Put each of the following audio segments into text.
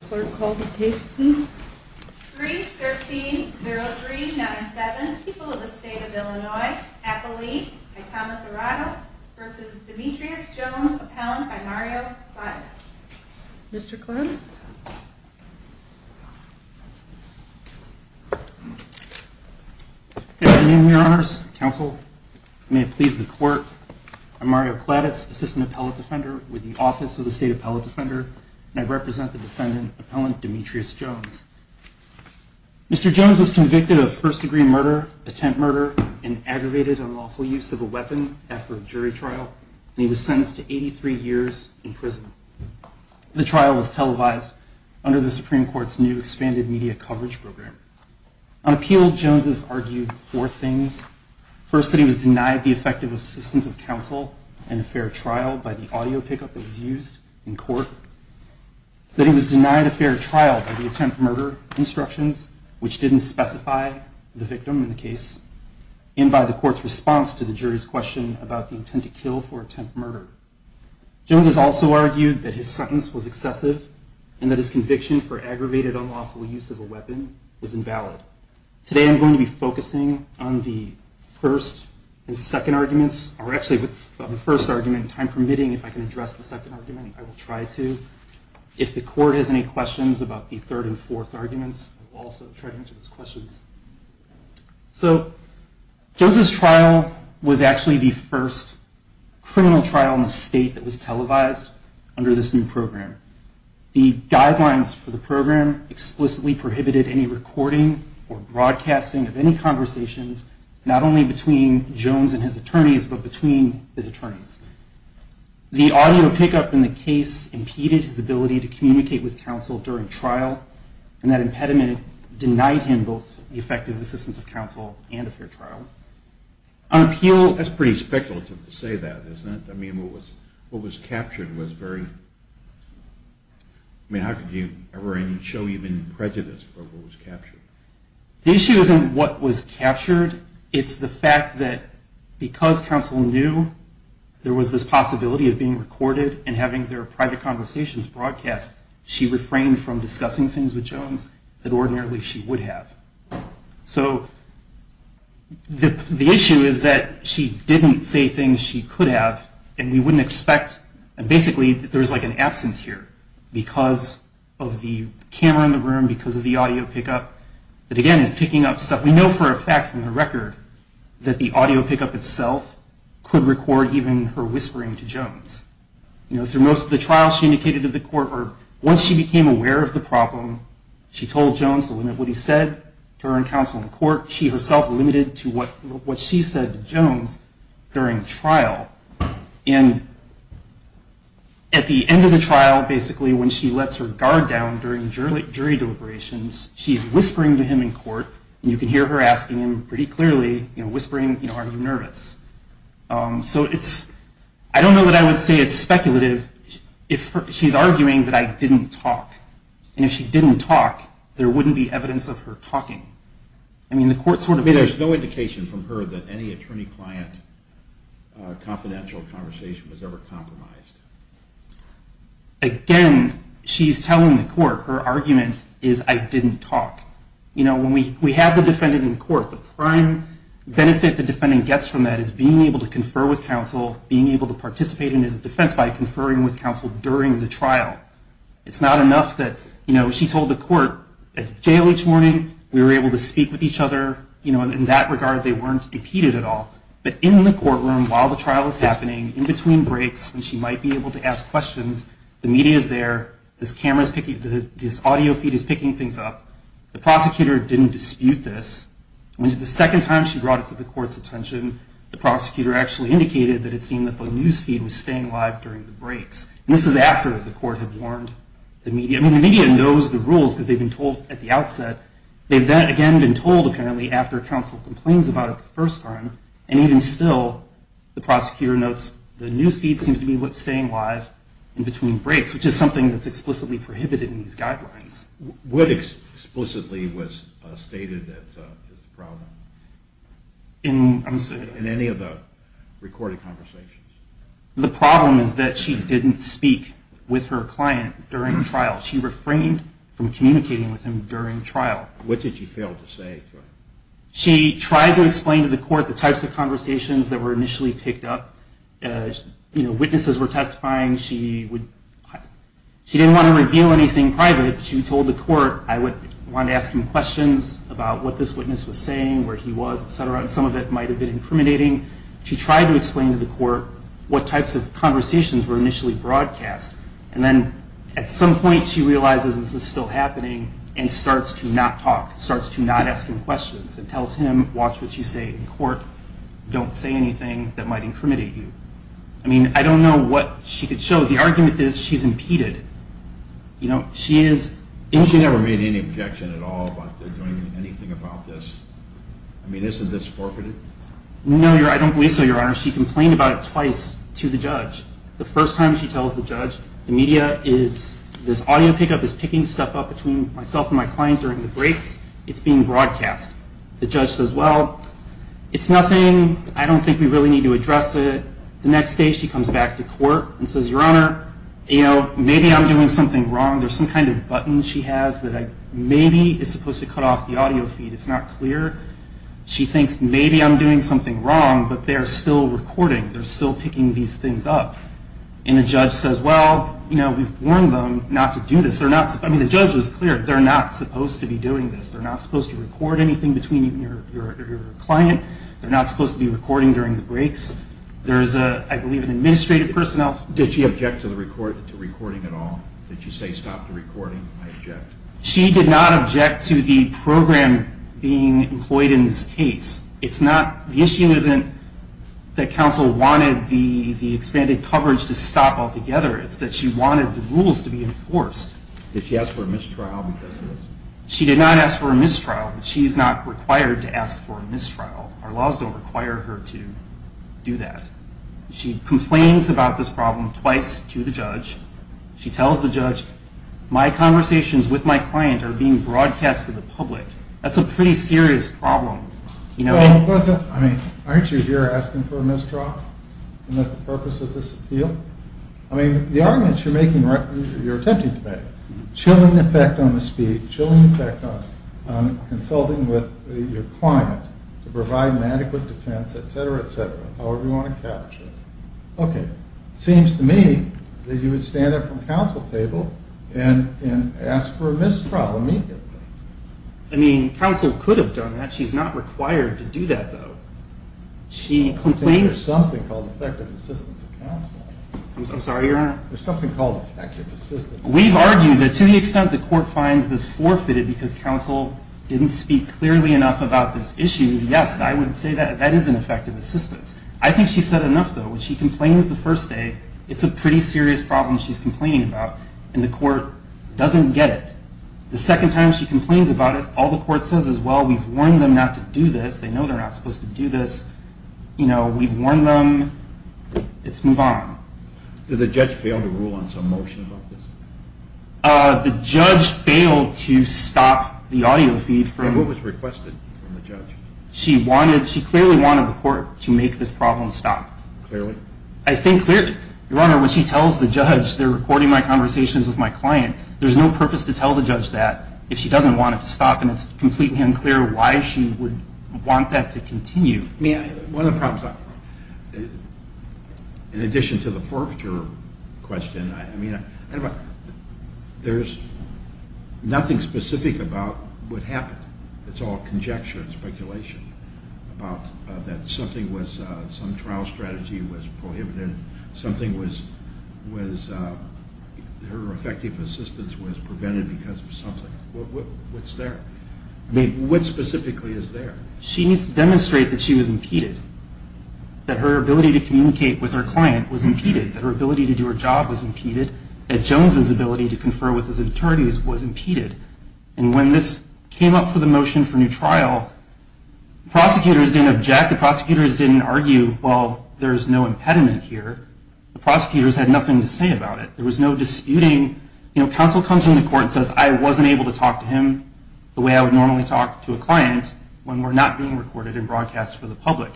The court will call the case please. 3-13-03-97. People of the State of Illinois. Appellee by Thomas Arado v. Demetrius Jones. Appellant by Mario Clattis. Mr. Clattis. Good afternoon, your honors, counsel. May it please the court. I'm Mario Clattis, Assistant Appellate Defender with the Office of the State Appellate Defender, and I represent the defendant, Appellant Demetrius Jones. Mr. Jones was convicted of first-degree murder, attempt murder, and aggravated unlawful use of a weapon after a jury trial, and he was sentenced to 83 years in prison. The trial was televised under the Supreme Court's new expanded media coverage program. On appeal, Jones has argued four things. First, that he was denied the effective assistance of counsel and a fair trial by the audio pickup that was used in court, that he was denied a fair trial by the attempt murder instructions, which didn't specify the victim in the case, and by the court's response to the jury's question about the intent to kill for attempt murder. Jones has also argued that his sentence was excessive and that his conviction for aggravated unlawful use of a weapon was invalid. Today I'm going to be focusing on the first and second arguments, or actually on the first argument. If I'm permitting, if I can address the second argument, I will try to. If the court has any questions about the third and fourth arguments, I will also try to answer those questions. So, Jones' trial was actually the first criminal trial in the state that was televised under this new program. The guidelines for the program explicitly prohibited any recording or broadcasting of any conversations, not only between Jones and his attorneys, but between his attorneys. The audio pickup in the case impeded his ability to communicate with counsel during trial, and that impediment denied him both the effective assistance of counsel and a fair trial. That's pretty speculative to say that, isn't it? I mean, what was captured was very... I mean, how could you ever show even prejudice for what was captured? The issue isn't what was captured, it's the fact that because counsel knew there was this possibility of being recorded and having their private conversations broadcast, she refrained from discussing things with Jones that ordinarily she would have. So, the issue is that she didn't say things she could have, and we wouldn't expect... because of the camera in the room, because of the audio pickup, that again is picking up stuff we know for a fact from the record that the audio pickup itself could record even her whispering to Jones. You know, through most of the trial, she indicated to the court once she became aware of the problem, she told Jones to limit what he said to her and counsel in court. She herself limited to what she said to Jones during trial. And at the end of the trial, basically when she lets her guard down during jury deliberations, she's whispering to him in court, and you can hear her asking him pretty clearly, you know, whispering, you know, are you nervous? So it's... I don't know that I would say it's speculative if she's arguing that I didn't talk. And if she didn't talk, there wouldn't be evidence of her talking. I mean, the court sort of... I would say there's no indication from her that any attorney-client confidential conversation was ever compromised. Again, she's telling the court, her argument is I didn't talk. You know, when we have the defendant in court, the prime benefit the defendant gets from that is being able to confer with counsel, being able to participate in his defense by conferring with counsel during the trial. It's not enough that, you know, she told the court at jail each morning, we were able to speak with each other, you know, in that regard they weren't impeded at all. But in the courtroom while the trial is happening, in between breaks when she might be able to ask questions, the media is there, this audio feed is picking things up, the prosecutor didn't dispute this. The second time she brought it to the court's attention, the prosecutor actually indicated that it seemed that the news feed was staying live during the breaks. And this is after the court had warned the media. I mean, the media knows the rules because they've been told at the outset. They've then again been told apparently after counsel complains about it the first time, and even still the prosecutor notes the news feed seems to be staying live in between breaks, which is something that's explicitly prohibited in these guidelines. What explicitly was stated as the problem? In any of the recorded conversations? The problem is that she didn't speak with her client during the trial. She refrained from communicating with him during the trial. What did she fail to say? She tried to explain to the court the types of conversations that were initially picked up. You know, witnesses were testifying. She didn't want to reveal anything private. She told the court, I wanted to ask him questions about what this witness was saying, where he was, et cetera. And some of it might have been incriminating. She tried to explain to the court what types of conversations were initially broadcast. And then at some point she realizes this is still happening and starts to not talk, starts to not ask him questions and tells him, watch what you say in court. Don't say anything that might incriminate you. I mean, I don't know what she could show. The argument is she's impeded. She never made any objection at all about doing anything about this. I mean, isn't this forfeited? No, I don't believe so, Your Honor. She complained about it twice to the judge. The first time she tells the judge, the media is, this audio pickup is picking stuff up between myself and my client during the breaks. It's being broadcast. The judge says, well, it's nothing. I don't think we really need to address it. The next day she comes back to court and says, Your Honor, you know, maybe I'm doing something wrong. There's some kind of button she has that maybe is supposed to cut off the audio feed. It's not clear. She thinks maybe I'm doing something wrong, but they're still recording. They're still picking these things up. And the judge says, well, you know, we've warned them not to do this. I mean, the judge was clear. They're not supposed to be doing this. They're not supposed to record anything between you and your client. They're not supposed to be recording during the breaks. There's, I believe, an administrative personnel. Did she object to the recording at all? Did she say stop the recording? I object. She did not object to the program being employed in this case. It's not, the issue isn't that counsel wanted the expanded coverage to stop altogether. It's that she wanted the rules to be enforced. Did she ask for a mistrial because of this? She did not ask for a mistrial. She's not required to ask for a mistrial. Our laws don't require her to do that. She complains about this problem twice to the judge. She tells the judge, my conversations with my client are not important. They're being broadcast to the public. That's a pretty serious problem. Well, wasn't, I mean, aren't you here asking for a mistrial? Isn't that the purpose of this appeal? I mean, the arguments you're making, you're attempting to make, chilling effect on the speech, chilling effect on consulting with your client to provide an adequate defense, et cetera, et cetera, however you want to capture it. Okay. Seems to me that you would stand up from the counsel table and ask for a mistrial immediately. I mean, counsel could have done that. She's not required to do that, though. She complains. I think there's something called effective assistance of counsel. I'm sorry, Your Honor? There's something called effective assistance of counsel. We've argued that to the extent the court finds this forfeited because counsel didn't speak clearly enough about this issue, yes, I would say that that is an effective assistance. I think she's said enough, though. When she complains the first day, it's a pretty serious problem she's complaining about, and the court doesn't get it. The second time she complains about it, all the court says is, well, we've warned them not to do this. They know they're not supposed to do this. You know, we've warned them. Let's move on. Did the judge fail to rule on some motion about this? The judge failed to stop the audio feed from... And what was requested from the judge? She clearly wanted the court to make this problem stop. Clearly? I think clearly. Your Honor, when she tells the judge, they're recording my conversations with my client, there's no purpose to tell the judge that if she doesn't want it to stop, and it's completely unclear why she would want that to continue. One of the problems, in addition to the forfeiture question, I mean, there's nothing specific about what happened. It's all conjecture and speculation about that something was, some trial strategy was prohibited, something was, her effective assistance was prevented because of something. What's there? I mean, what specifically is there? She needs to demonstrate that she was impeded, that her ability to communicate with her client was impeded, that her ability to do her job was impeded, that Jones' ability to confer with his attorneys was impeded. And when this came up for the motion for new trial, prosecutors didn't object. The prosecutors didn't argue, well, there's no impediment here. The prosecutors had nothing to say about it. There was no disputing, you know, counsel comes into court and says, I wasn't able to talk to him the way I would normally talk to a client when we're not being recorded and broadcast for the public.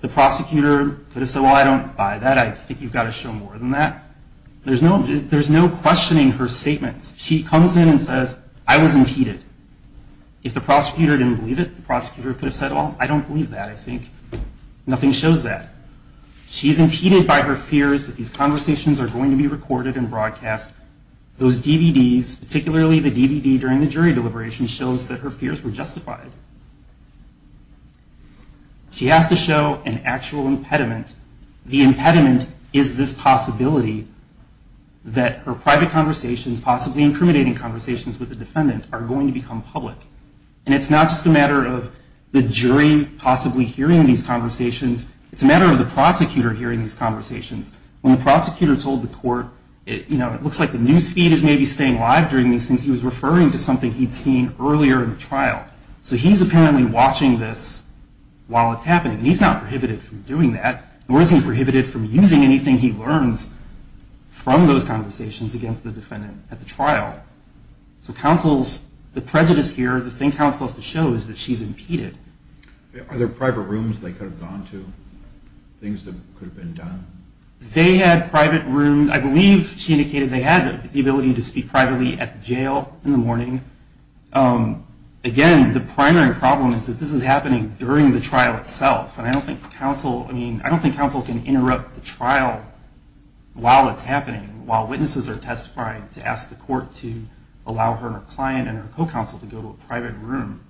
The prosecutor could have said, well, I don't buy that. I think you've got to show more than that. There's no questioning her statements. She comes in and says, I was impeded. If the prosecutor didn't believe it, the prosecutor could have said, well, I don't believe that. I think nothing shows that. She's impeded by her fears that these conversations are going to be recorded and broadcast. Those DVDs, particularly the DVD during the jury deliberation, shows that her fears were justified. She has to show an actual impediment. The impediment is this possibility that her private conversations, possibly incriminating conversations with the defendant, are going to become public. And it's not just a matter of the jury possibly hearing these conversations. It's a matter of the prosecutor hearing these conversations. When the prosecutor told the court, you know, it looks like the news feed is maybe staying live during these things. He was referring to something he'd seen earlier in the trial. So he's apparently watching this while it's happening. And he's not prohibited from doing that. Nor is he prohibited from using anything he learns from those conversations against the defendant at the trial. So the prejudice here, the thing counsel has to show, is that she's impeded. Are there private rooms they could have gone to? Things that could have been done? They had private rooms. I believe she indicated they had the ability to speak privately at the jail in the morning. Again, the primary problem is that this is happening during the trial itself. And I don't think counsel can interrupt the trial while it's happening, while witnesses are testifying, to ask the court to allow her client and her co-counsel to go to a private room.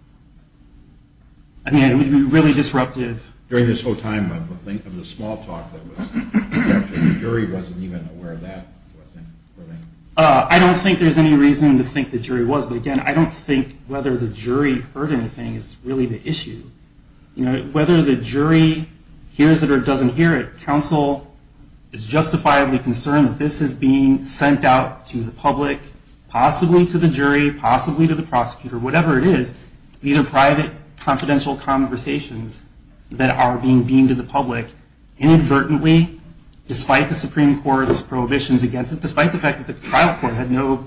I mean, it would be really disruptive. During this whole time of the small talk, the jury wasn't even aware of that? I don't think there's any reason to think the jury was. But again, I don't think whether the jury heard anything is really the issue. Whether the jury hears it or doesn't hear it, counsel is justifiably concerned that this is being sent out to the public, possibly to the jury, possibly to the prosecutor, whatever it is, these are private, confidential conversations that are being beamed to the public inadvertently, despite the Supreme Court's prohibitions against it, despite the fact that the trial court had no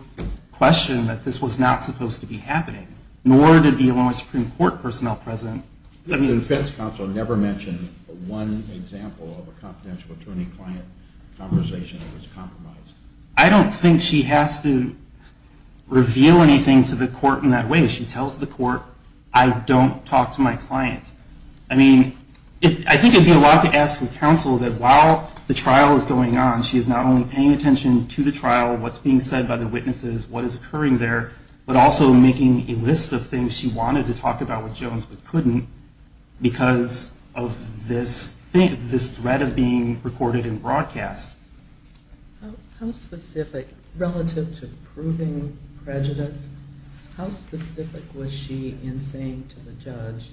question that this was not supposed to be happening. Nor did the Illinois Supreme Court personnel present. The defense counsel never mentioned one example of a confidential attorney-client conversation that was compromised? I don't think she has to reveal anything to the court in that way. She tells the court, I don't talk to my client. I mean, I think it would be a lot to ask the counsel that while the trial is going on, she's not only paying attention to the trial, what's being said by the witnesses, what is occurring there, but also making a list of things she wanted to talk about with Jones but couldn't because of this threat of being recorded and broadcast. How specific, relative to proving prejudice, how specific was she in saying to the judge,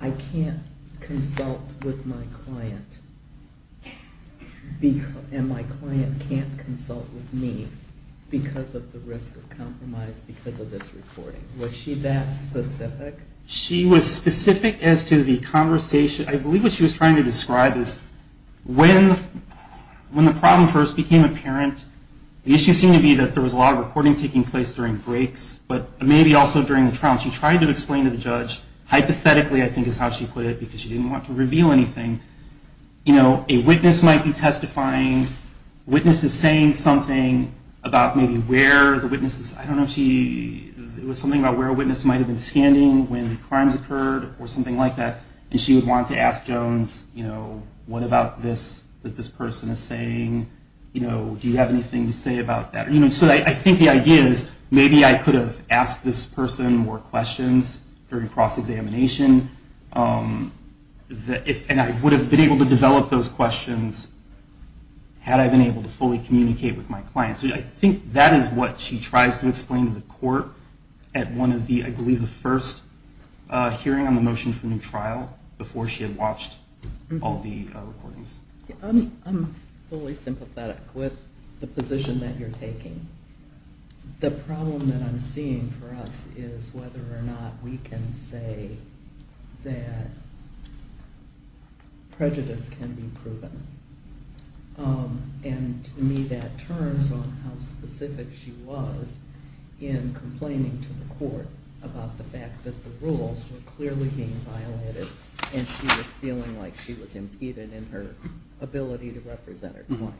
I can't consult with my client, and my client can't consult with me because of the risk of compromise because of this recording. Was she that specific? She was specific as to the conversation. I believe what she was trying to describe is when the problem first became apparent, the issue seemed to be that there was a lot of recording taking place during breaks, but maybe also during the trial. She tried to explain to the judge, hypothetically I think is how she put it because she didn't want to reveal anything, a witness might be testifying, a witness is saying something about maybe where the witness is, I don't know if she, it was something about where a witness might have been standing when the crimes occurred or something like that, and she would want to ask Jones what about this that this person is saying, do you have anything to say about that. So I think the idea is maybe I could have asked this person more questions during cross-examination and I would have been able to develop those questions had I been able to fully communicate with my client. So I think that is what she tries to explain to the court at one of the, I believe the first hearing on the motion for new trial before she had watched all the recordings. I'm fully sympathetic with the position that you're taking. The problem that I'm seeing for us is whether or not we can say that prejudice can be proven. And to me that turns on how specific she was in complaining to the court about the fact that the rules were clearly being violated and she was feeling like she was impeded in her ability to represent her client.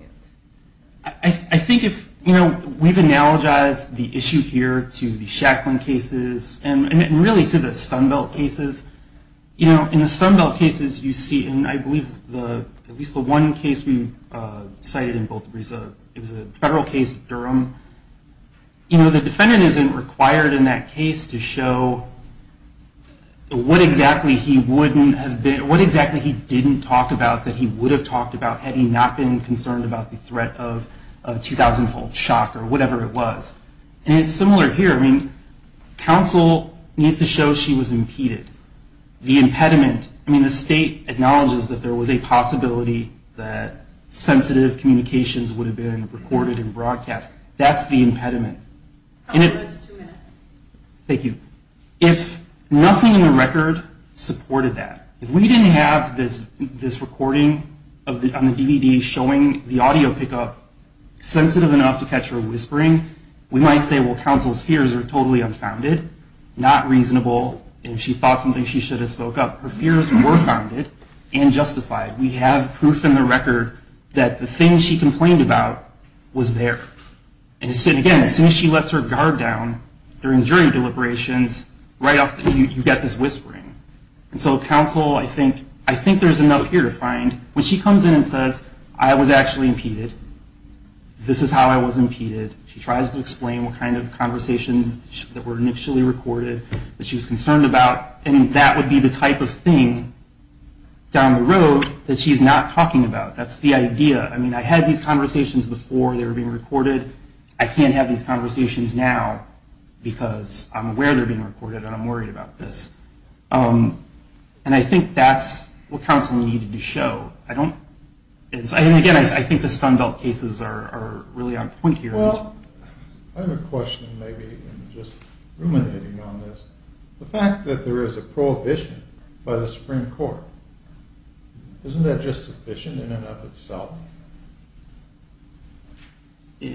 I think if, we've analogized the issue here to the Stun Belt cases, you know in the Stun Belt cases you see and I believe at least the one case we cited in both of these, it was a federal case of Durham, you know the defendant isn't required in that case to show what exactly he wouldn't have been, what exactly he didn't talk about that he would have talked about had he not been concerned about the threat of 2,000-fold shock or whatever it was. And it's similar here, I mean it's to show she was impeded. The impediment, I mean the state acknowledges that there was a possibility that sensitive communications would have been recorded and broadcast. That's the impediment. Thank you. If nothing in the record supported that, if we didn't have this recording on the DVD showing the audio pickup sensitive enough to catch her whispering, we might say well counsel's fears are totally unfounded, not reasonable, and if she thought something she should have spoke up. Her fears were founded and justified. We have proof in the record that the thing she complained about was there. And again, as soon as she lets her guard down during jury deliberations right off the bat you get this whispering. And so counsel I think there's enough here to find. When she comes in and says I was actually impeded, this is how I was impeded, she tries to explain what kind of conversations that were initially recorded that she was concerned about, and that would be the type of thing down the road that she's not talking about. That's the idea. I mean I had these conversations before they were being recorded. I can't have these conversations now because I'm aware they're being recorded and I'm worried about this. And I think that's what counsel needed to show. And again, I think the Sunbelt cases are really on point here. The fact that there is a prohibition by the Supreme Court, isn't that just sufficient in and of itself? Why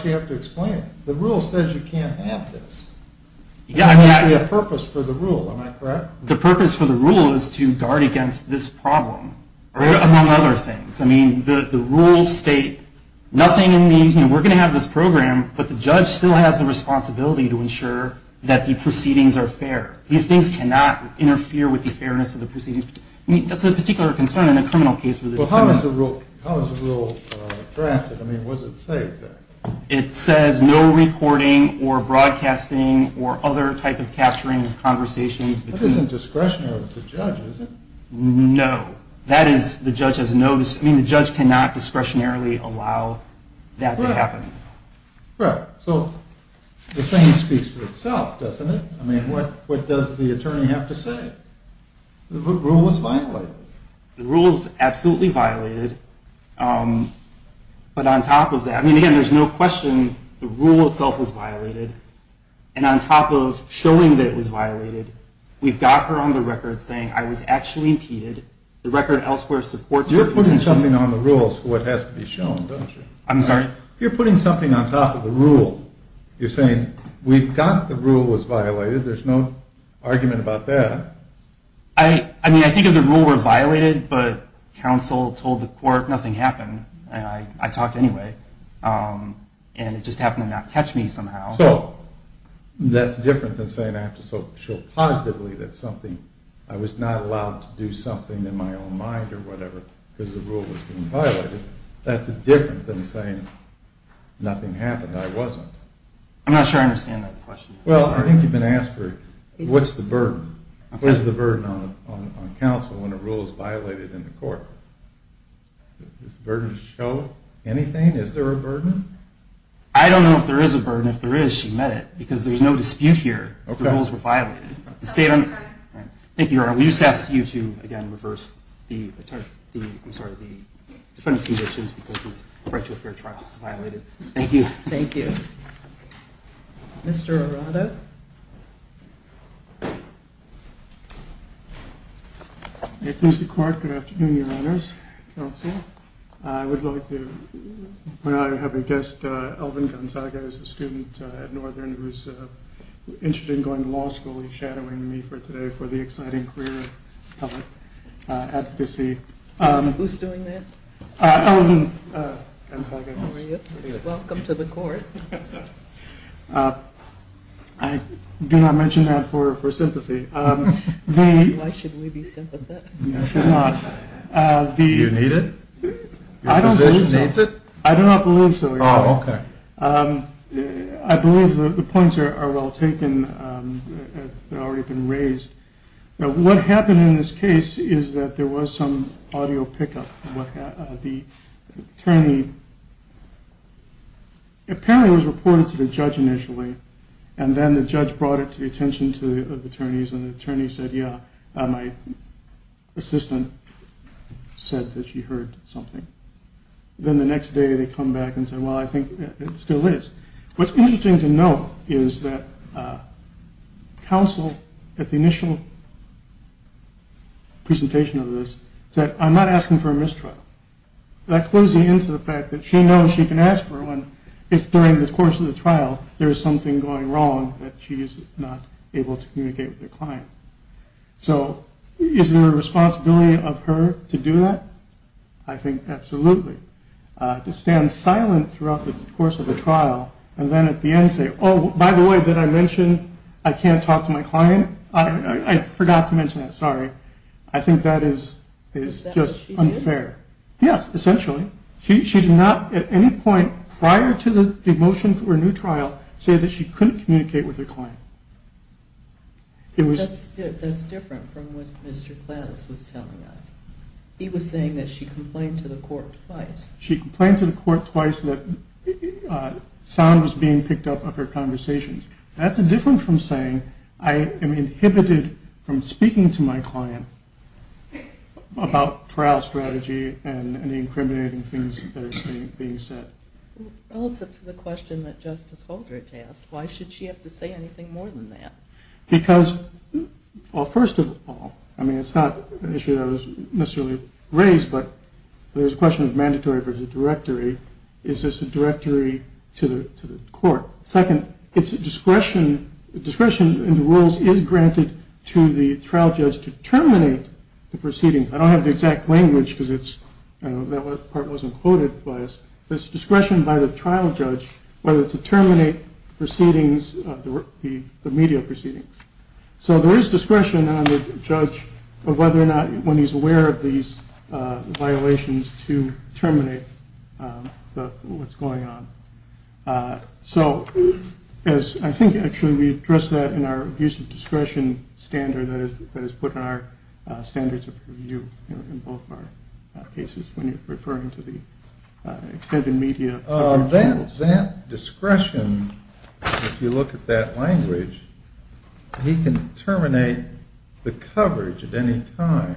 do you have to explain? The rule says you can't have this. There must be a purpose for the rule, am I correct? The purpose for the rule is to guard against this problem, among other things. The rules state nothing in the, we're going to have this program, but the judge still has the responsibility to ensure that the proceedings are fair. These things cannot interfere with the fairness of the proceedings. That's a particular concern in a criminal case. How is the rule drafted? What does it say exactly? It says no recording or broadcasting or other type of capturing of conversations. That isn't discretionary of the judge, is it? No. The judge cannot discretionarily allow that to happen. The same speaks for itself, doesn't it? What does the attorney have to say? The rule was violated. The rule is absolutely violated. But on top of that, there's no question the rule itself was violated. And on top of showing that it was violated, we've got her on the record saying I was actually impeded. The record elsewhere supports You're putting something on the rules for what has to be shown, don't you? I'm sorry? You're putting something on top of the rule. You're saying we've got the rule was violated. There's no argument about that. I mean, I think if the rule were violated, but counsel told the court nothing happened, and I talked anyway, and it just happened to not catch me somehow. So that's different than saying I have to show positively that I was not allowed to do something in my own mind or whatever because the rule was being violated. That's different than saying nothing happened. I wasn't. I'm not sure I understand that question. Well, I think you've been asked what's the burden? What is the burden on counsel when a rule is violated in the court? Is the burden to show anything? Is there a burden? I don't know if there is a burden. If there is, she met it. Because there's no dispute here. The rules were violated. Thank you, Your Honor. We just ask you to, again, reverse the defendant's conditions because it's referred to a fair trial. It's violated. Thank you. Thank you. Mr. Arado? Thank you, Mr. Court. Good afternoon, Your Honors. I would like to have my guest Elvin Gonzaga who's a student at Northern who's interested in going to law school. He's shadowing me today for the exciting career of public advocacy. Who's doing that? Elvin Gonzaga. How are you? Welcome to the court. I do not mention that for sympathy. Why should we be sympathetic? You need it? Your position needs it? I do not believe so, Your Honor. I believe the points are well taken. What happened in this case is that there was some audio pickup. The attorney apparently was reported to the judge initially and then the judge brought it to the attention of the attorneys and the attorney said, yeah, my assistant said that she heard something. Then the next day they come back and said, well, I think it still is. What's interesting to note is that counsel at the initial presentation of this said, I'm not asking for a mistrial. That clues me into the fact that she knows she can ask for one if during the course of the trial there is something going wrong that she is not able to communicate with the client. So is there a responsibility of her to do that? I think absolutely. To stand silent throughout the course of the trial and then at the end say, oh, by the way, did I mention I can't talk to my client? I forgot to mention that, sorry. I think that is just unfair. Yes, essentially. She did not at any point prior to the motion for a new trial say that she couldn't communicate with her client. That's different from what Mr. Klaus was telling us. He was saying that she complained to the court twice. She complained to the court twice that sound was being picked up of her conversations. That's different from saying I am inhibited from speaking to my client about trial strategy and the incriminating things that are being said. Relative to the question that Justice Holdridge asked, why should she have to say anything more than that? Because first of all, it's not an issue that was necessarily raised, but there is a question of mandatory versus directory. Is this a directory to the court? Second, discretion in the rules is granted to the trial judge to terminate the proceedings. I don't have the exact language because that part wasn't quoted by us. It's discretion by the trial judge whether to terminate the media proceedings. So there is discretion on the judge of whether or not when he's aware of these violations to terminate what's going on. So I think actually we address that in our use of discretion standard that is put in our standards of review in both of our cases when you're referring to the extended media. That discretion if you look at that language, he can terminate the coverage at any time.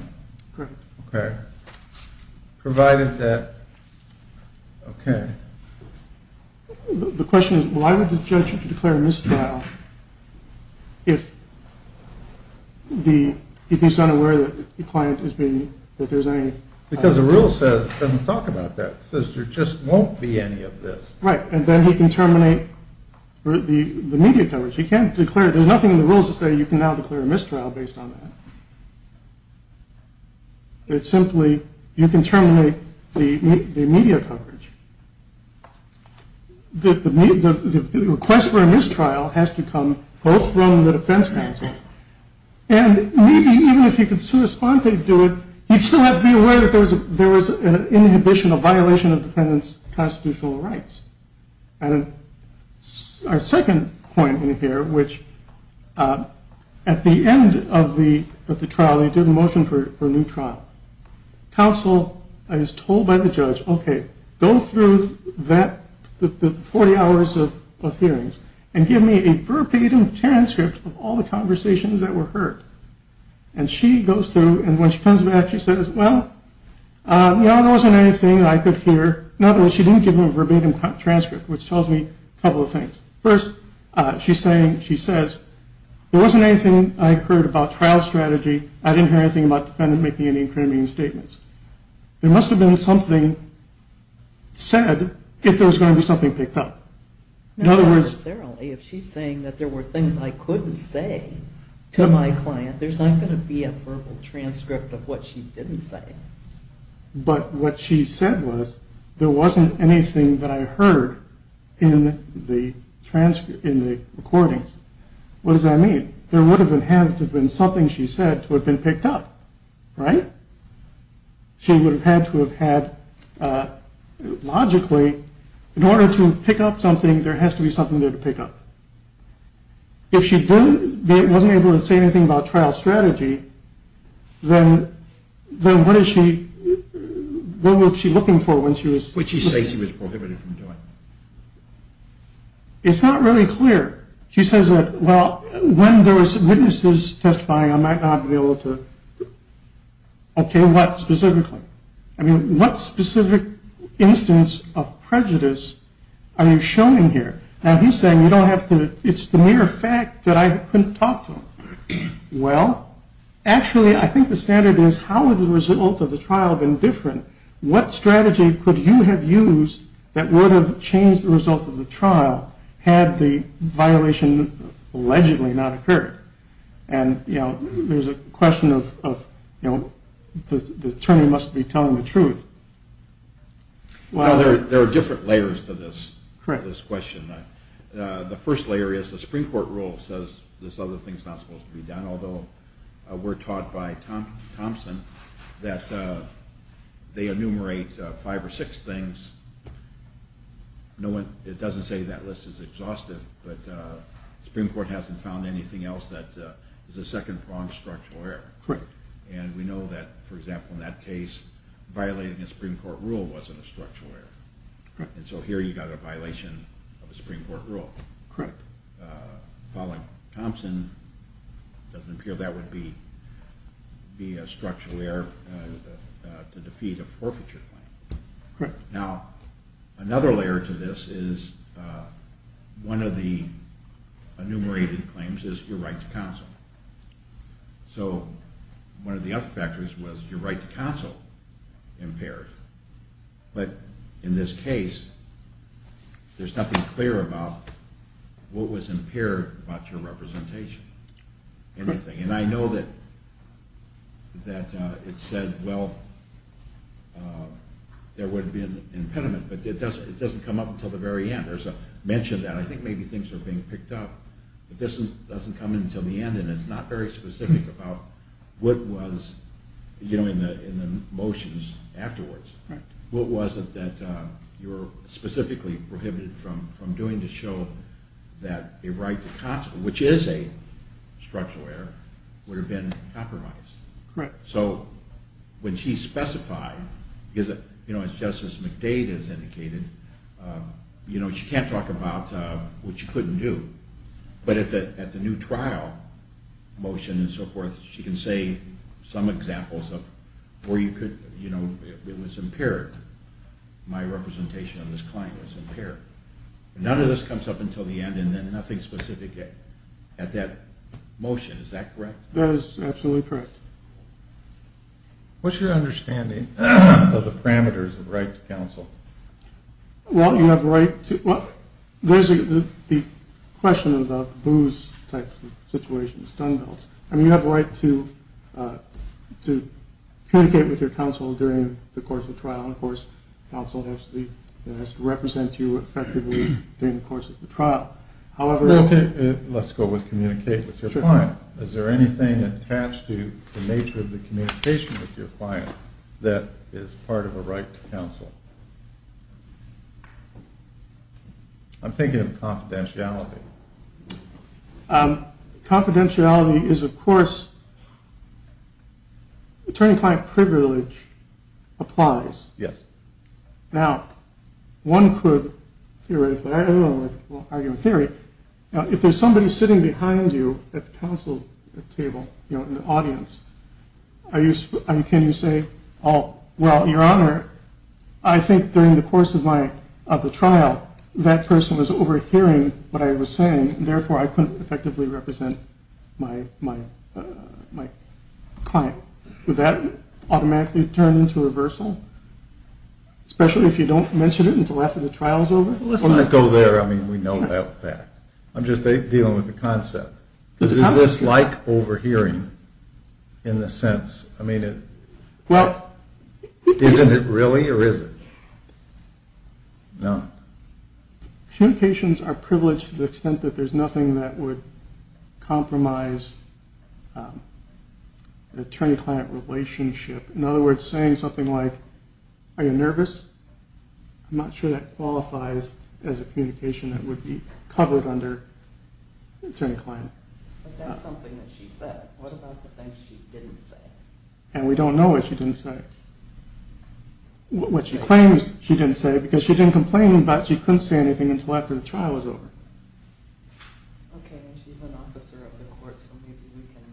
Provided that The question is, why would the judge declare a misdial if he's not aware that the client is being... Because the rule doesn't talk about that. It says there just won't be any of this. Right. And then he can terminate the media coverage. He can't declare it. There's nothing in the rules that say you can now declare a mistrial based on that. It's simply, you can terminate the media coverage. The request for a mistrial has to come both from the defense counsel and maybe even if he could do it in violation of defendant's constitutional rights. Our second point in here, which at the end of the trial, they did a motion for a new trial. Counsel is told by the judge, okay, go through the 40 hours of hearings and give me a verbatim transcript of all the conversations that were heard. And she goes through and when she comes back she says, well there wasn't anything I could hear. In other words, she didn't give me a verbatim transcript which tells me a couple of things. First, she says there wasn't anything I heard about trial strategy. I didn't hear anything about the defendant making any incriminating statements. There must have been something said if there was going to be something picked up. In other words... Not necessarily. If she's saying that there were things I couldn't say to my client, there's not going to be a verbal transcript of what she didn't say. But what she said was there wasn't anything that I heard in the recordings. What does that mean? There would have been something she said to have been picked up, right? She would have had to have had, logically, in order to pick up something, there has to be something there to pick up. If she wasn't able to say anything about trial strategy, then what is she looking for when she was... What did she say she was prohibited from doing? It's not really clear. She says that, well when there were witnesses testifying, I might not be able to... Okay, what specifically? I mean, what specific instance of prejudice are you showing here? Now he's saying you don't have to... It's the mere fact that I couldn't talk to him. Well, actually, I think the standard is how would the result of the trial have been different? What strategy could you have used that would have changed the result of the trial had the violation allegedly not occurred? And, you know, there's a question of, you know, the attorney must be telling the truth. Well, there are different layers to this question. The first layer is the Supreme Court rule says this other thing's not supposed to be done, although we're taught by Thompson that they enumerate five or six things. It doesn't say that list is exhaustive, but the Supreme Court hasn't found anything else that is a second-pronged structural error. Correct. And we know that, for example, in that case, violating a Supreme Court rule wasn't a structural error. And so here you've got a violation of a Supreme Court rule. Correct. Pauling Thompson doesn't appear that would be a structural error to defeat a forfeiture claim. Correct. Now, another layer to this is one of the enumerated claims is your right to counsel. So one of the other factors was your right to counsel impaired. But in this case, there's nothing clear about what was impaired about your representation, anything. And I know that it said, well, there would be an impediment, but it doesn't come up until the very end. There's a mention that I think maybe things are being picked up, but this doesn't come until the end, and it's not very specific about what was in the motions afterwards. What was it that you were specifically prohibited from doing to show that a right to counsel, which is a structural error, would have been compromised? Correct. So when she specified, as Justice McDade has indicated, she can't talk about what she couldn't do. But at the new trial motion and so forth, she can say some examples of where you could, you know, it was impaired. My representation on this claim was impaired. None of this comes up until the end, and then nothing specific at that motion. Is that correct? That is absolutely correct. What's your understanding of the parameters of right to counsel? Well, you have the right to, well, there's the question about the booze type of situation, the stun belts. I mean, you have the right to communicate with your counsel during the course of trial, and of course counsel has to represent you effectively during the course of the trial. Let's go with communicate with your client. Is there anything attached to the nature of the communication with your client that is part of a right to counsel? I'm thinking of confidentiality. Confidentiality is, of course, attorney-client privilege applies. Now, one could argue in theory, if there's somebody sitting behind you at the counsel table, you know, in the audience, can you say, well, your honor, I think during the course of the trial, that person was overhearing what I was saying, and therefore I couldn't effectively represent my client. Would that automatically turn into reversal? Especially if you don't mention it until after the trial is over? Well, let's not go there. I mean, we know that fact. I'm just dealing with the concept. Because is this like overhearing, in the sense? I mean, isn't it really, or is it? No. Communications are privileged to the extent that there's nothing that would compromise the attorney-client relationship. In other words, saying something like, are you nervous? I'm not sure that qualifies as a communication that would be covered under attorney-client. But that's something that she said. What about the things she didn't say? And we don't know what she didn't say. What she claims she didn't say, because she didn't complain, but she couldn't say anything until after the trial was over. Okay, and she's an officer of the court, so maybe we can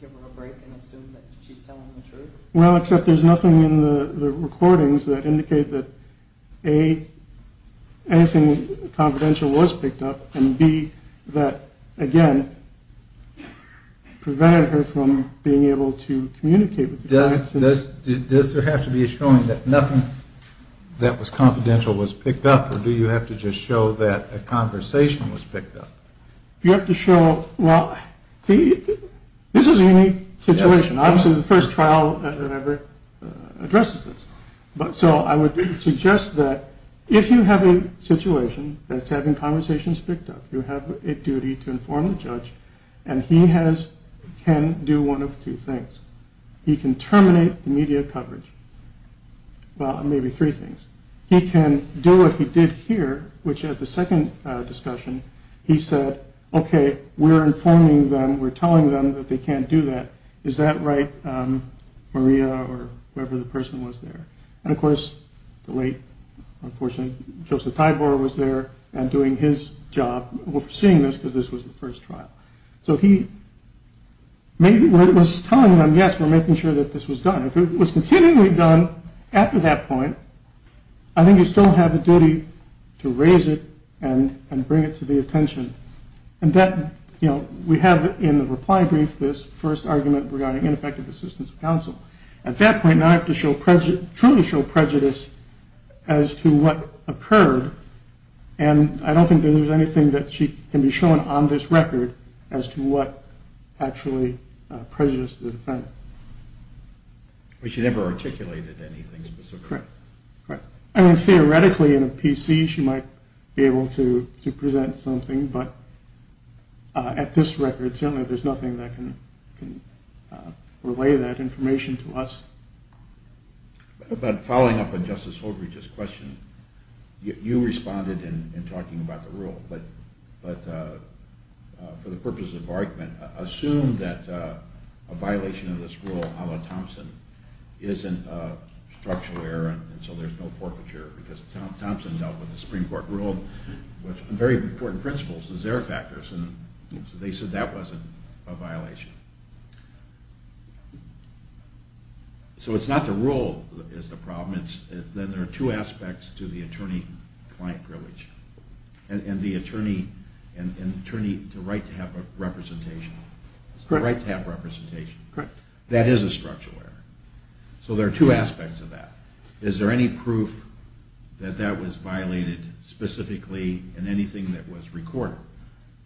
give her a break and assume that she's telling the truth? Well, except there's nothing in the recordings that indicate that, A, anything confidential was picked up, and B, that, again, prevented her from being able to communicate with the client. Does there have to be a showing that nothing that was confidential was picked up, or do you have to just show that a conversation was picked up? You have to show, well, see, this is a unique situation. Obviously, the first trial that ever addresses this. So I would suggest that if you have a situation that's having conversations picked up, you have a duty to inform the judge, and he can do one of two things. He can terminate the media coverage. Well, maybe three things. He can do what he did here, which at the second discussion, he said, okay, we're informing them, we're telling them that they can't do that. Is that right, Maria, or whoever the person was there? And, of course, the late, unfortunately, Joseph Thibor was there and doing his job, seeing this, because this was the first trial. So he was telling them, yes, we're making sure that this was done. If it was continually done after that point, I think you still have a duty to raise it and bring it to the attention. And that, you know, we have in the reply brief this first argument regarding ineffective assistance of counsel. At that point, now I have to truly show prejudice as to what occurred, and I don't think that there's anything that can be shown on this record as to what actually prejudiced the defendant. She never articulated anything specifically. Theoretically, in a PC, she might be able to present something, but at this record, certainly there's nothing that can relay that information to us. But following up on Justice Holbrook's question, you responded in talking about the rule, but for the purpose of argument, assume that a violation of this rule, a la Thompson, isn't a structural error, and so there's no forfeiture, because Thompson dealt with the Supreme Court rule, with very important principles as error factors, and they said that wasn't a violation. So it's not the rule that's the problem, then there are two aspects to the attorney-client privilege. And the attorney has the right to have representation. That is a structural error. So there are two aspects of that. Is there any proof that that was violated specifically in anything that was recorded?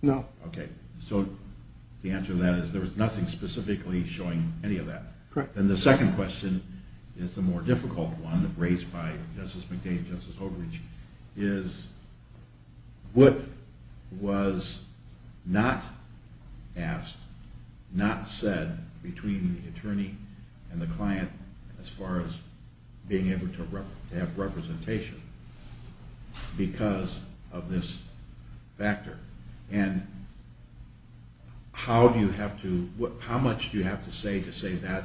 No. Okay. So the answer to that is there was nothing specifically showing any of that. And the second question is the more difficult one, raised by Justice McDave and Justice Oakridge, is what was not asked, not said between the attorney and the client as far as being able to have representation because of this factor. And how do you have to, how much do you have to say to say that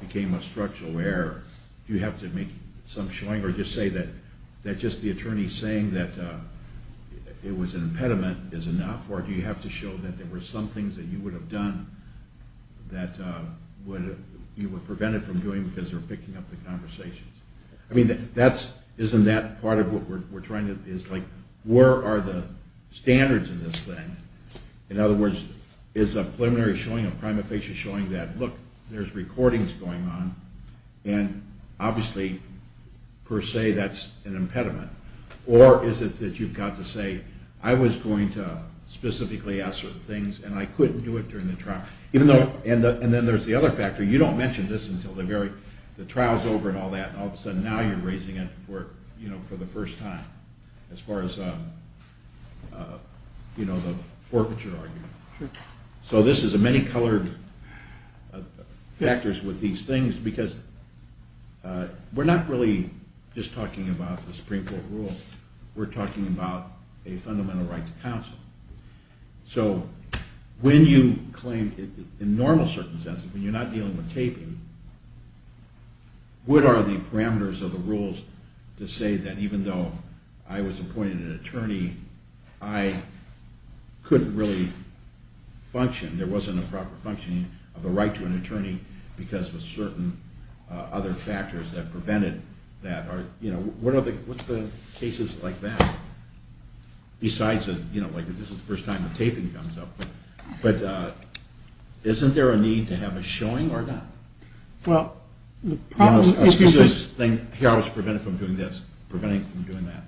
became a structural error? Do you have to make some showing or just say that just the attorney saying that it was an impediment is enough, or do you have to show that there were some things that you would have done that you were prevented from doing because they were picking up the conversations? I mean, isn't that part of what we're trying to, is like, where are the standards in this thing? In other words, is a preliminary showing, a prima facie showing that, look, there's recordings going on, and obviously per se that's an impediment. Or is it that you've got to say, I was going to specifically ask certain things and I couldn't do it during the trial. And then there's the other factor, you don't mention this until the trial's over and all that, and all of a sudden now you're raising it for the first time as far as the forfeiture argument. So this is a many colored factors with these things because we're not really just talking about the Supreme Court rule. We're talking about a fundamental right to counsel. So when you claim, in normal circumstances, when you're not dealing with taping, what are the parameters of the rules to say that even though I was appointed an attorney, I couldn't really function, there wasn't a proper functioning of a right to an attorney because of certain other factors that prevented that. What's the cases like that? Besides, this is the first time the taping comes up. Isn't there a need to have a showing or not? Here I was prevented from doing this. Prevented from doing that.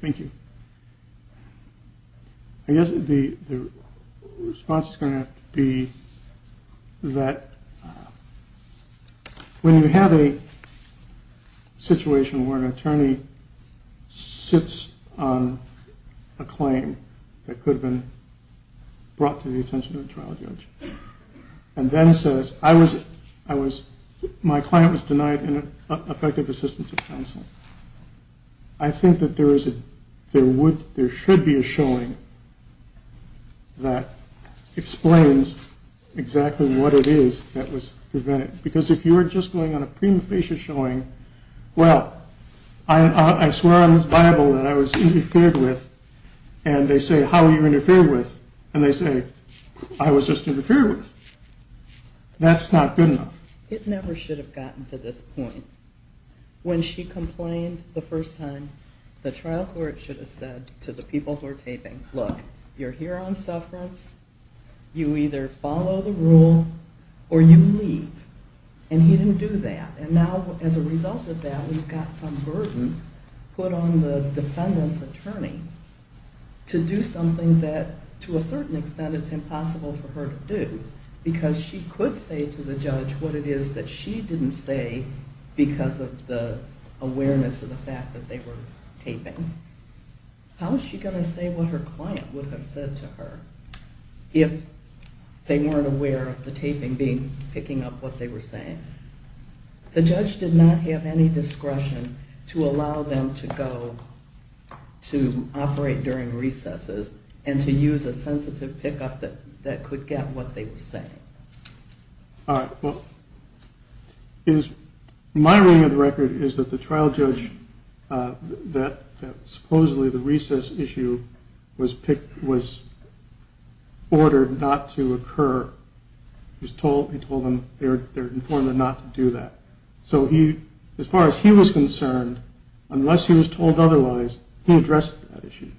Thank you. I guess the response is going to have to be that when you have a situation where an attorney sits on a claim that could have been brought to the attention of a trial judge and then says, my claim was denied in effective assistance of counsel. I think that there should be a showing that explains exactly what it is that was prevented. Because if you're just going on a prima facie showing, well, I swear on this Bible that I was interfered with, and they say, how were you interfered with? And they say, I was just interfered with. That's not good enough. It never should have gotten to this point. When she complained the first time, the trial court should have said to the people who are taping, look, you're here on sufferance. You either follow the rule or you leave. And he didn't do that. And now as a result of that we've got some burden put on the defendant's attorney to do something that, to a certain extent, it's impossible for her to do. Because she could say to the judge what it is that she didn't say because of the awareness of the fact that they were taping. How is she going to say what her client would have said to her if they weren't aware of the taping picking up what they were saying? The judge did not have any discretion to allow them to go to operate during recesses and to use a sensitive pickup that could get what they were saying. My reading of the record is that the trial judge that supposedly the recess issue was ordered not to occur, he told them they're informed not to do that. So as far as he was concerned, unless he was told otherwise, he addressed that issue.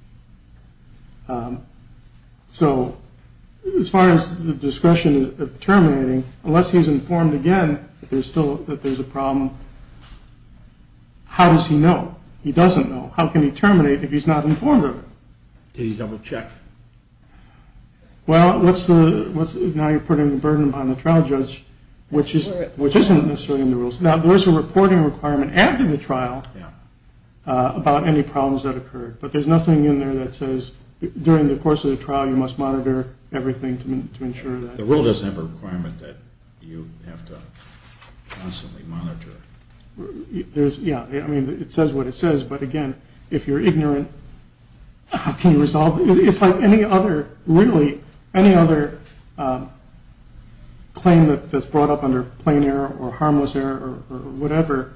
So as far as the discretion of terminating, unless he's informed again that there's a problem, how does he know? He doesn't know. How can he terminate if he's not informed of it? Did he double check? Well, now you're putting the burden on the trial judge, which isn't necessarily in the rules. Now there's a reporting requirement after the trial about any problems that occurred. But there's nothing in there that says during the course of the trial you must monitor everything to ensure that. The rule doesn't have a requirement that you have to constantly monitor. Yeah, I mean, it says what it says, but again, if you're ignorant, how can you resolve it? It's like any other claim that's brought up under plain error or harmless error or whatever.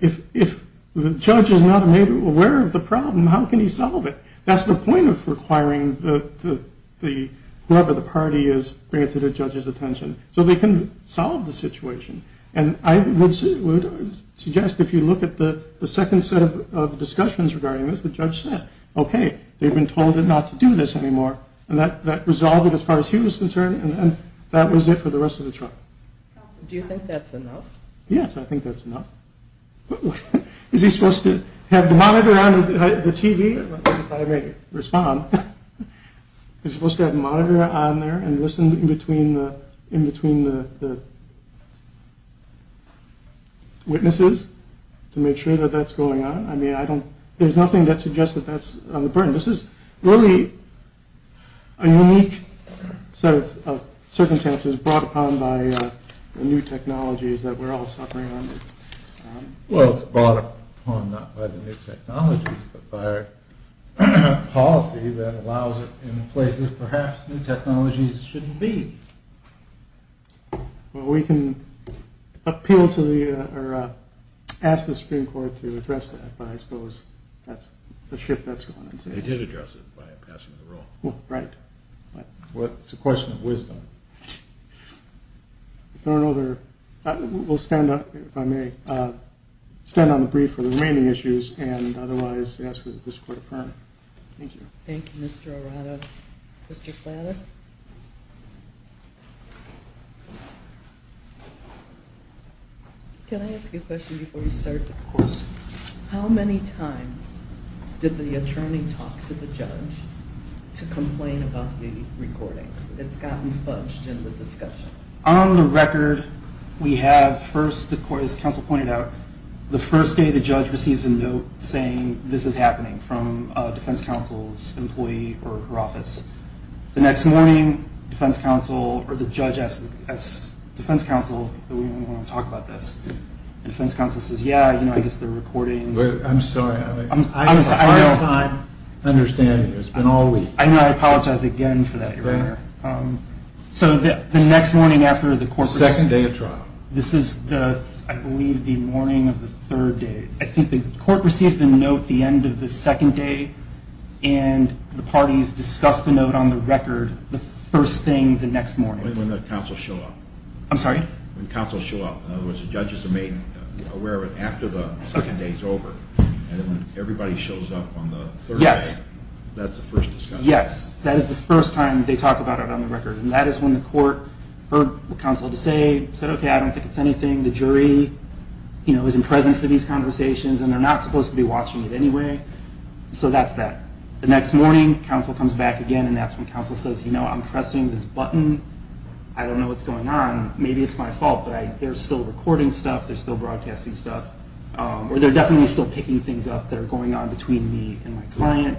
If the judge is not aware of the problem, how can he solve it? That's the point of requiring whoever the party is bring it to the judge's attention so they can solve the situation. And I would suggest if you look at the second set of discussions regarding this, the judge said, okay, they've been told not to do this anymore, and that resolved it as far as he was concerned, and that was it for the rest of the trial. Do you think that's enough? Yes, I think that's enough. Is he supposed to have the monitor on the TV? If I may respond, is he supposed to have the monitor on there and listen in between the witnesses to make sure that that's going on? I mean, I don't, there's nothing that suggests that that's on the burden. This is really a unique set of circumstances brought upon by the new technologies that we're all suffering under. Well, it's brought upon not by the new technologies but by a policy that allows it in places perhaps new technologies shouldn't be. Well, we can appeal to the, or ask the Supreme Court to address that, but I suppose that's a shift that's going on. They did address it by passing the rule. Well, right. It's a question of wisdom. If there are no other We'll stand up, if I may, stand on the brief for the remaining issues, and otherwise ask that this Court affirm. Thank you. Thank you, Mr. Arado. Mr. Klatos? Can I ask you a question before you start? Of course. How many times did the attorney talk to the judge to complain about the recordings? It's gotten fudged in the discussion. On the record, we have first, as counsel pointed out, the first day the judge receives a note saying this is happening from a defense counsel's employee or her office. The next morning, defense counsel, or the judge asks defense counsel, do we want to talk about this? And defense counsel says, yeah, I guess they're recording. I'm sorry. I have a hard time understanding this. It's been all week. I know. I apologize again for that, Your Honor. So the next morning after the court... Second day of trial. This is, I believe, the morning of the third day. I think the court receives the note the end of the second day, and the parties discuss the note on the record the first thing the next morning. When the counsels show up. I'm sorry? When the counsels show up. In other words, the judges are made aware of it after the second day is over. And then when everybody shows up on the third day, that's the first discussion. Yes, that is the first time they talk about it on the record. And that is when the court heard what counsel had to say. Said, okay, I don't think it's anything. The jury isn't present for these conversations, and they're not supposed to be watching it anyway. So that's that. The next morning, counsel comes back again, and that's when counsel says, you know, I'm pressing this button. I don't know what's going on. Maybe it's my fault, but they're still recording stuff. They're still broadcasting stuff. Or they're definitely still picking things up that are going on between me and my client.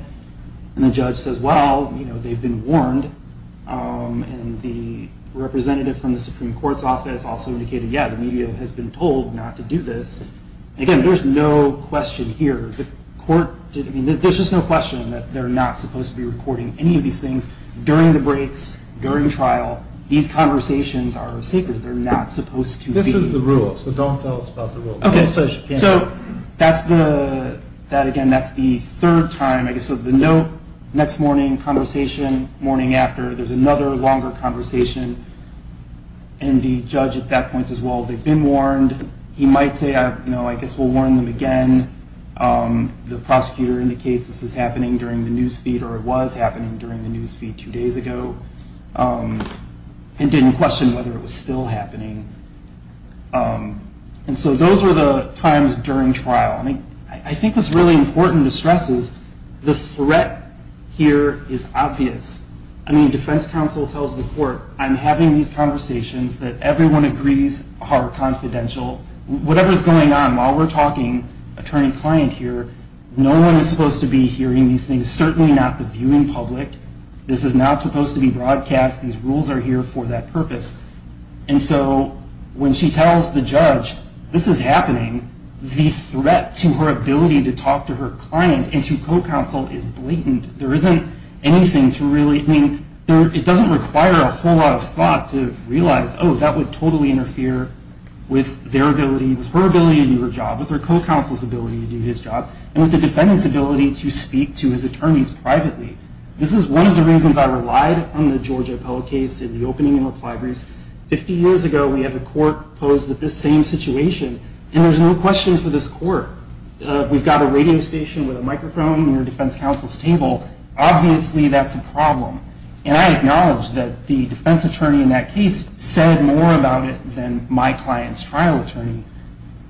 And the judge says, well, you know, they've been warned. And the representative from the Supreme Court's office also indicated, yeah, the media has been told not to do this. And again, there's no question here. There's just no question that they're not supposed to be recording any of these things during the breaks, during trial. These conversations are sacred. They're not supposed to be. This is the rule, so don't tell us about the rule. Okay, so that's the, that again, that's the third time. So the note, next morning, conversation, morning after, there's another longer conversation. And the judge at that point says, well, they've been warned. He might say, no, I guess we'll warn them again. The prosecutor indicates this is happening during the news feed, or it was happening during the news feed two days ago. And didn't question whether it was still happening. And so those were the times during trial. I think what's really important to stress is the threat here is obvious. I mean, defense counsel tells the court, I'm having these conversations that everyone agrees are confidential. Whatever's going on, while we're talking, attorney-client here, no one is supposed to be hearing these things. Certainly not the viewing public. This is not supposed to be broadcast. These rules are here for that purpose. And so when she tells the judge, this is happening, the threat to her ability to talk to her client and to co-counsel is blatant. There isn't anything to really, I mean, it doesn't require a whole lot of thought to realize, oh, that would totally interfere with their ability, with her ability to do her job, with her co-counsel's ability to do his job, and with the defendant's ability to speak to his attorneys privately. This is one of the reasons I relied on the Georgia appellate case in the opening and reply briefs. Fifty years ago, we had a court posed with this same situation, and there's no question for this court. We've got a radio station with a microphone near a defense counsel's table. Obviously, that's a problem. And I acknowledge that the defense attorney in that case said more about it than my client's trial attorney.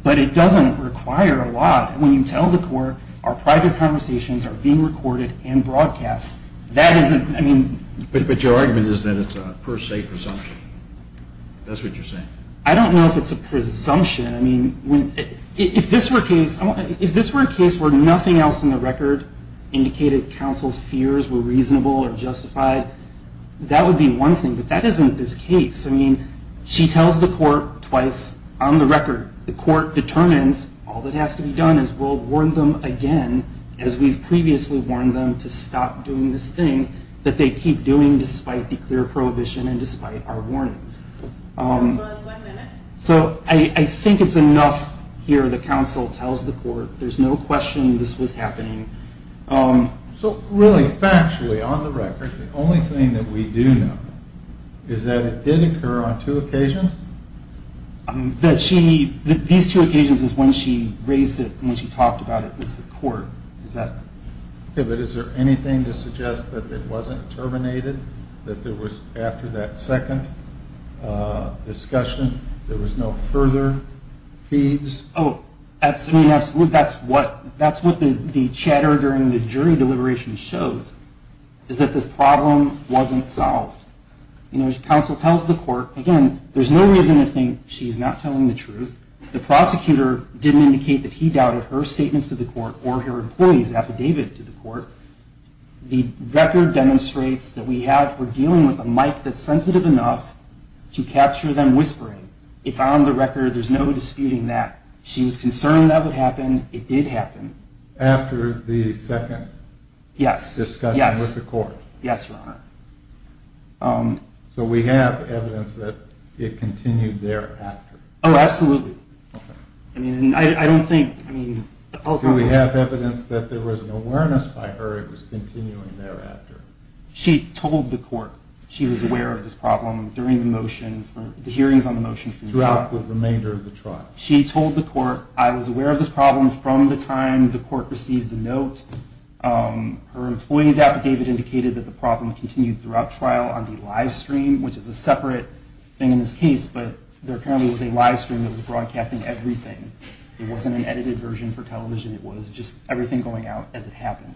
But it doesn't require a lot when you tell the court our private conversations are being recorded and broadcast. That isn't, I mean. But your argument is that it's a per se presumption. That's what you're saying. I don't know if it's a presumption. I mean, if this were a case where nothing else in the record indicated counsel's fears were reasonable or justified, that would be one thing. But that isn't this case. I mean, she tells the court twice on the record. The court determines all that has to be done is we'll warn them again, as we've previously warned them to stop doing this thing that they keep doing despite the clear prohibition and despite our warnings. So I think it's enough here that counsel tells the court there's no question this was happening. So really, factually, on the record, the only thing that we do know is that it did occur on two occasions? These two occasions is when she raised it, when she talked about it with the court. But is there anything to suggest that it wasn't terminated? That there was, after that second discussion, there was no further feeds? Oh, absolutely. That's what the chatter during the jury deliberation shows, is that this problem wasn't solved. Counsel tells the court, again, there's no reason to think she's not telling the truth. The prosecutor didn't indicate that he or her employees affidavit to the court. The record demonstrates that we're dealing with a mic that's sensitive enough to capture them whispering. It's on the record. There's no disputing that. She was concerned that would happen. It did happen. After the second discussion with the court? Yes. So we have evidence that it continued thereafter? Oh, absolutely. Do we have evidence that there was an awareness by her it was continuing thereafter? She told the court she was aware of this problem during the hearings on the motion. Throughout the remainder of the trial? She told the court, I was aware of this problem from the time the court received the note. Her employees affidavit indicated that the problem continued throughout trial on the live stream, which is a separate thing in this case, but there apparently was a live stream that was broadcasting everything. It wasn't an edited version for television. It was just everything going out as it happened.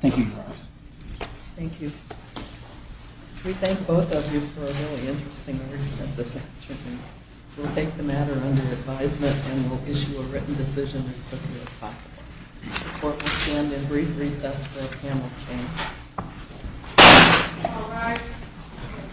Thank you, Your Honors. Thank you. We thank both of you for a really interesting argument this afternoon. We'll take the matter under advisement and we'll issue a written decision as quickly as possible. The court will stand in brief recess until the panel changes.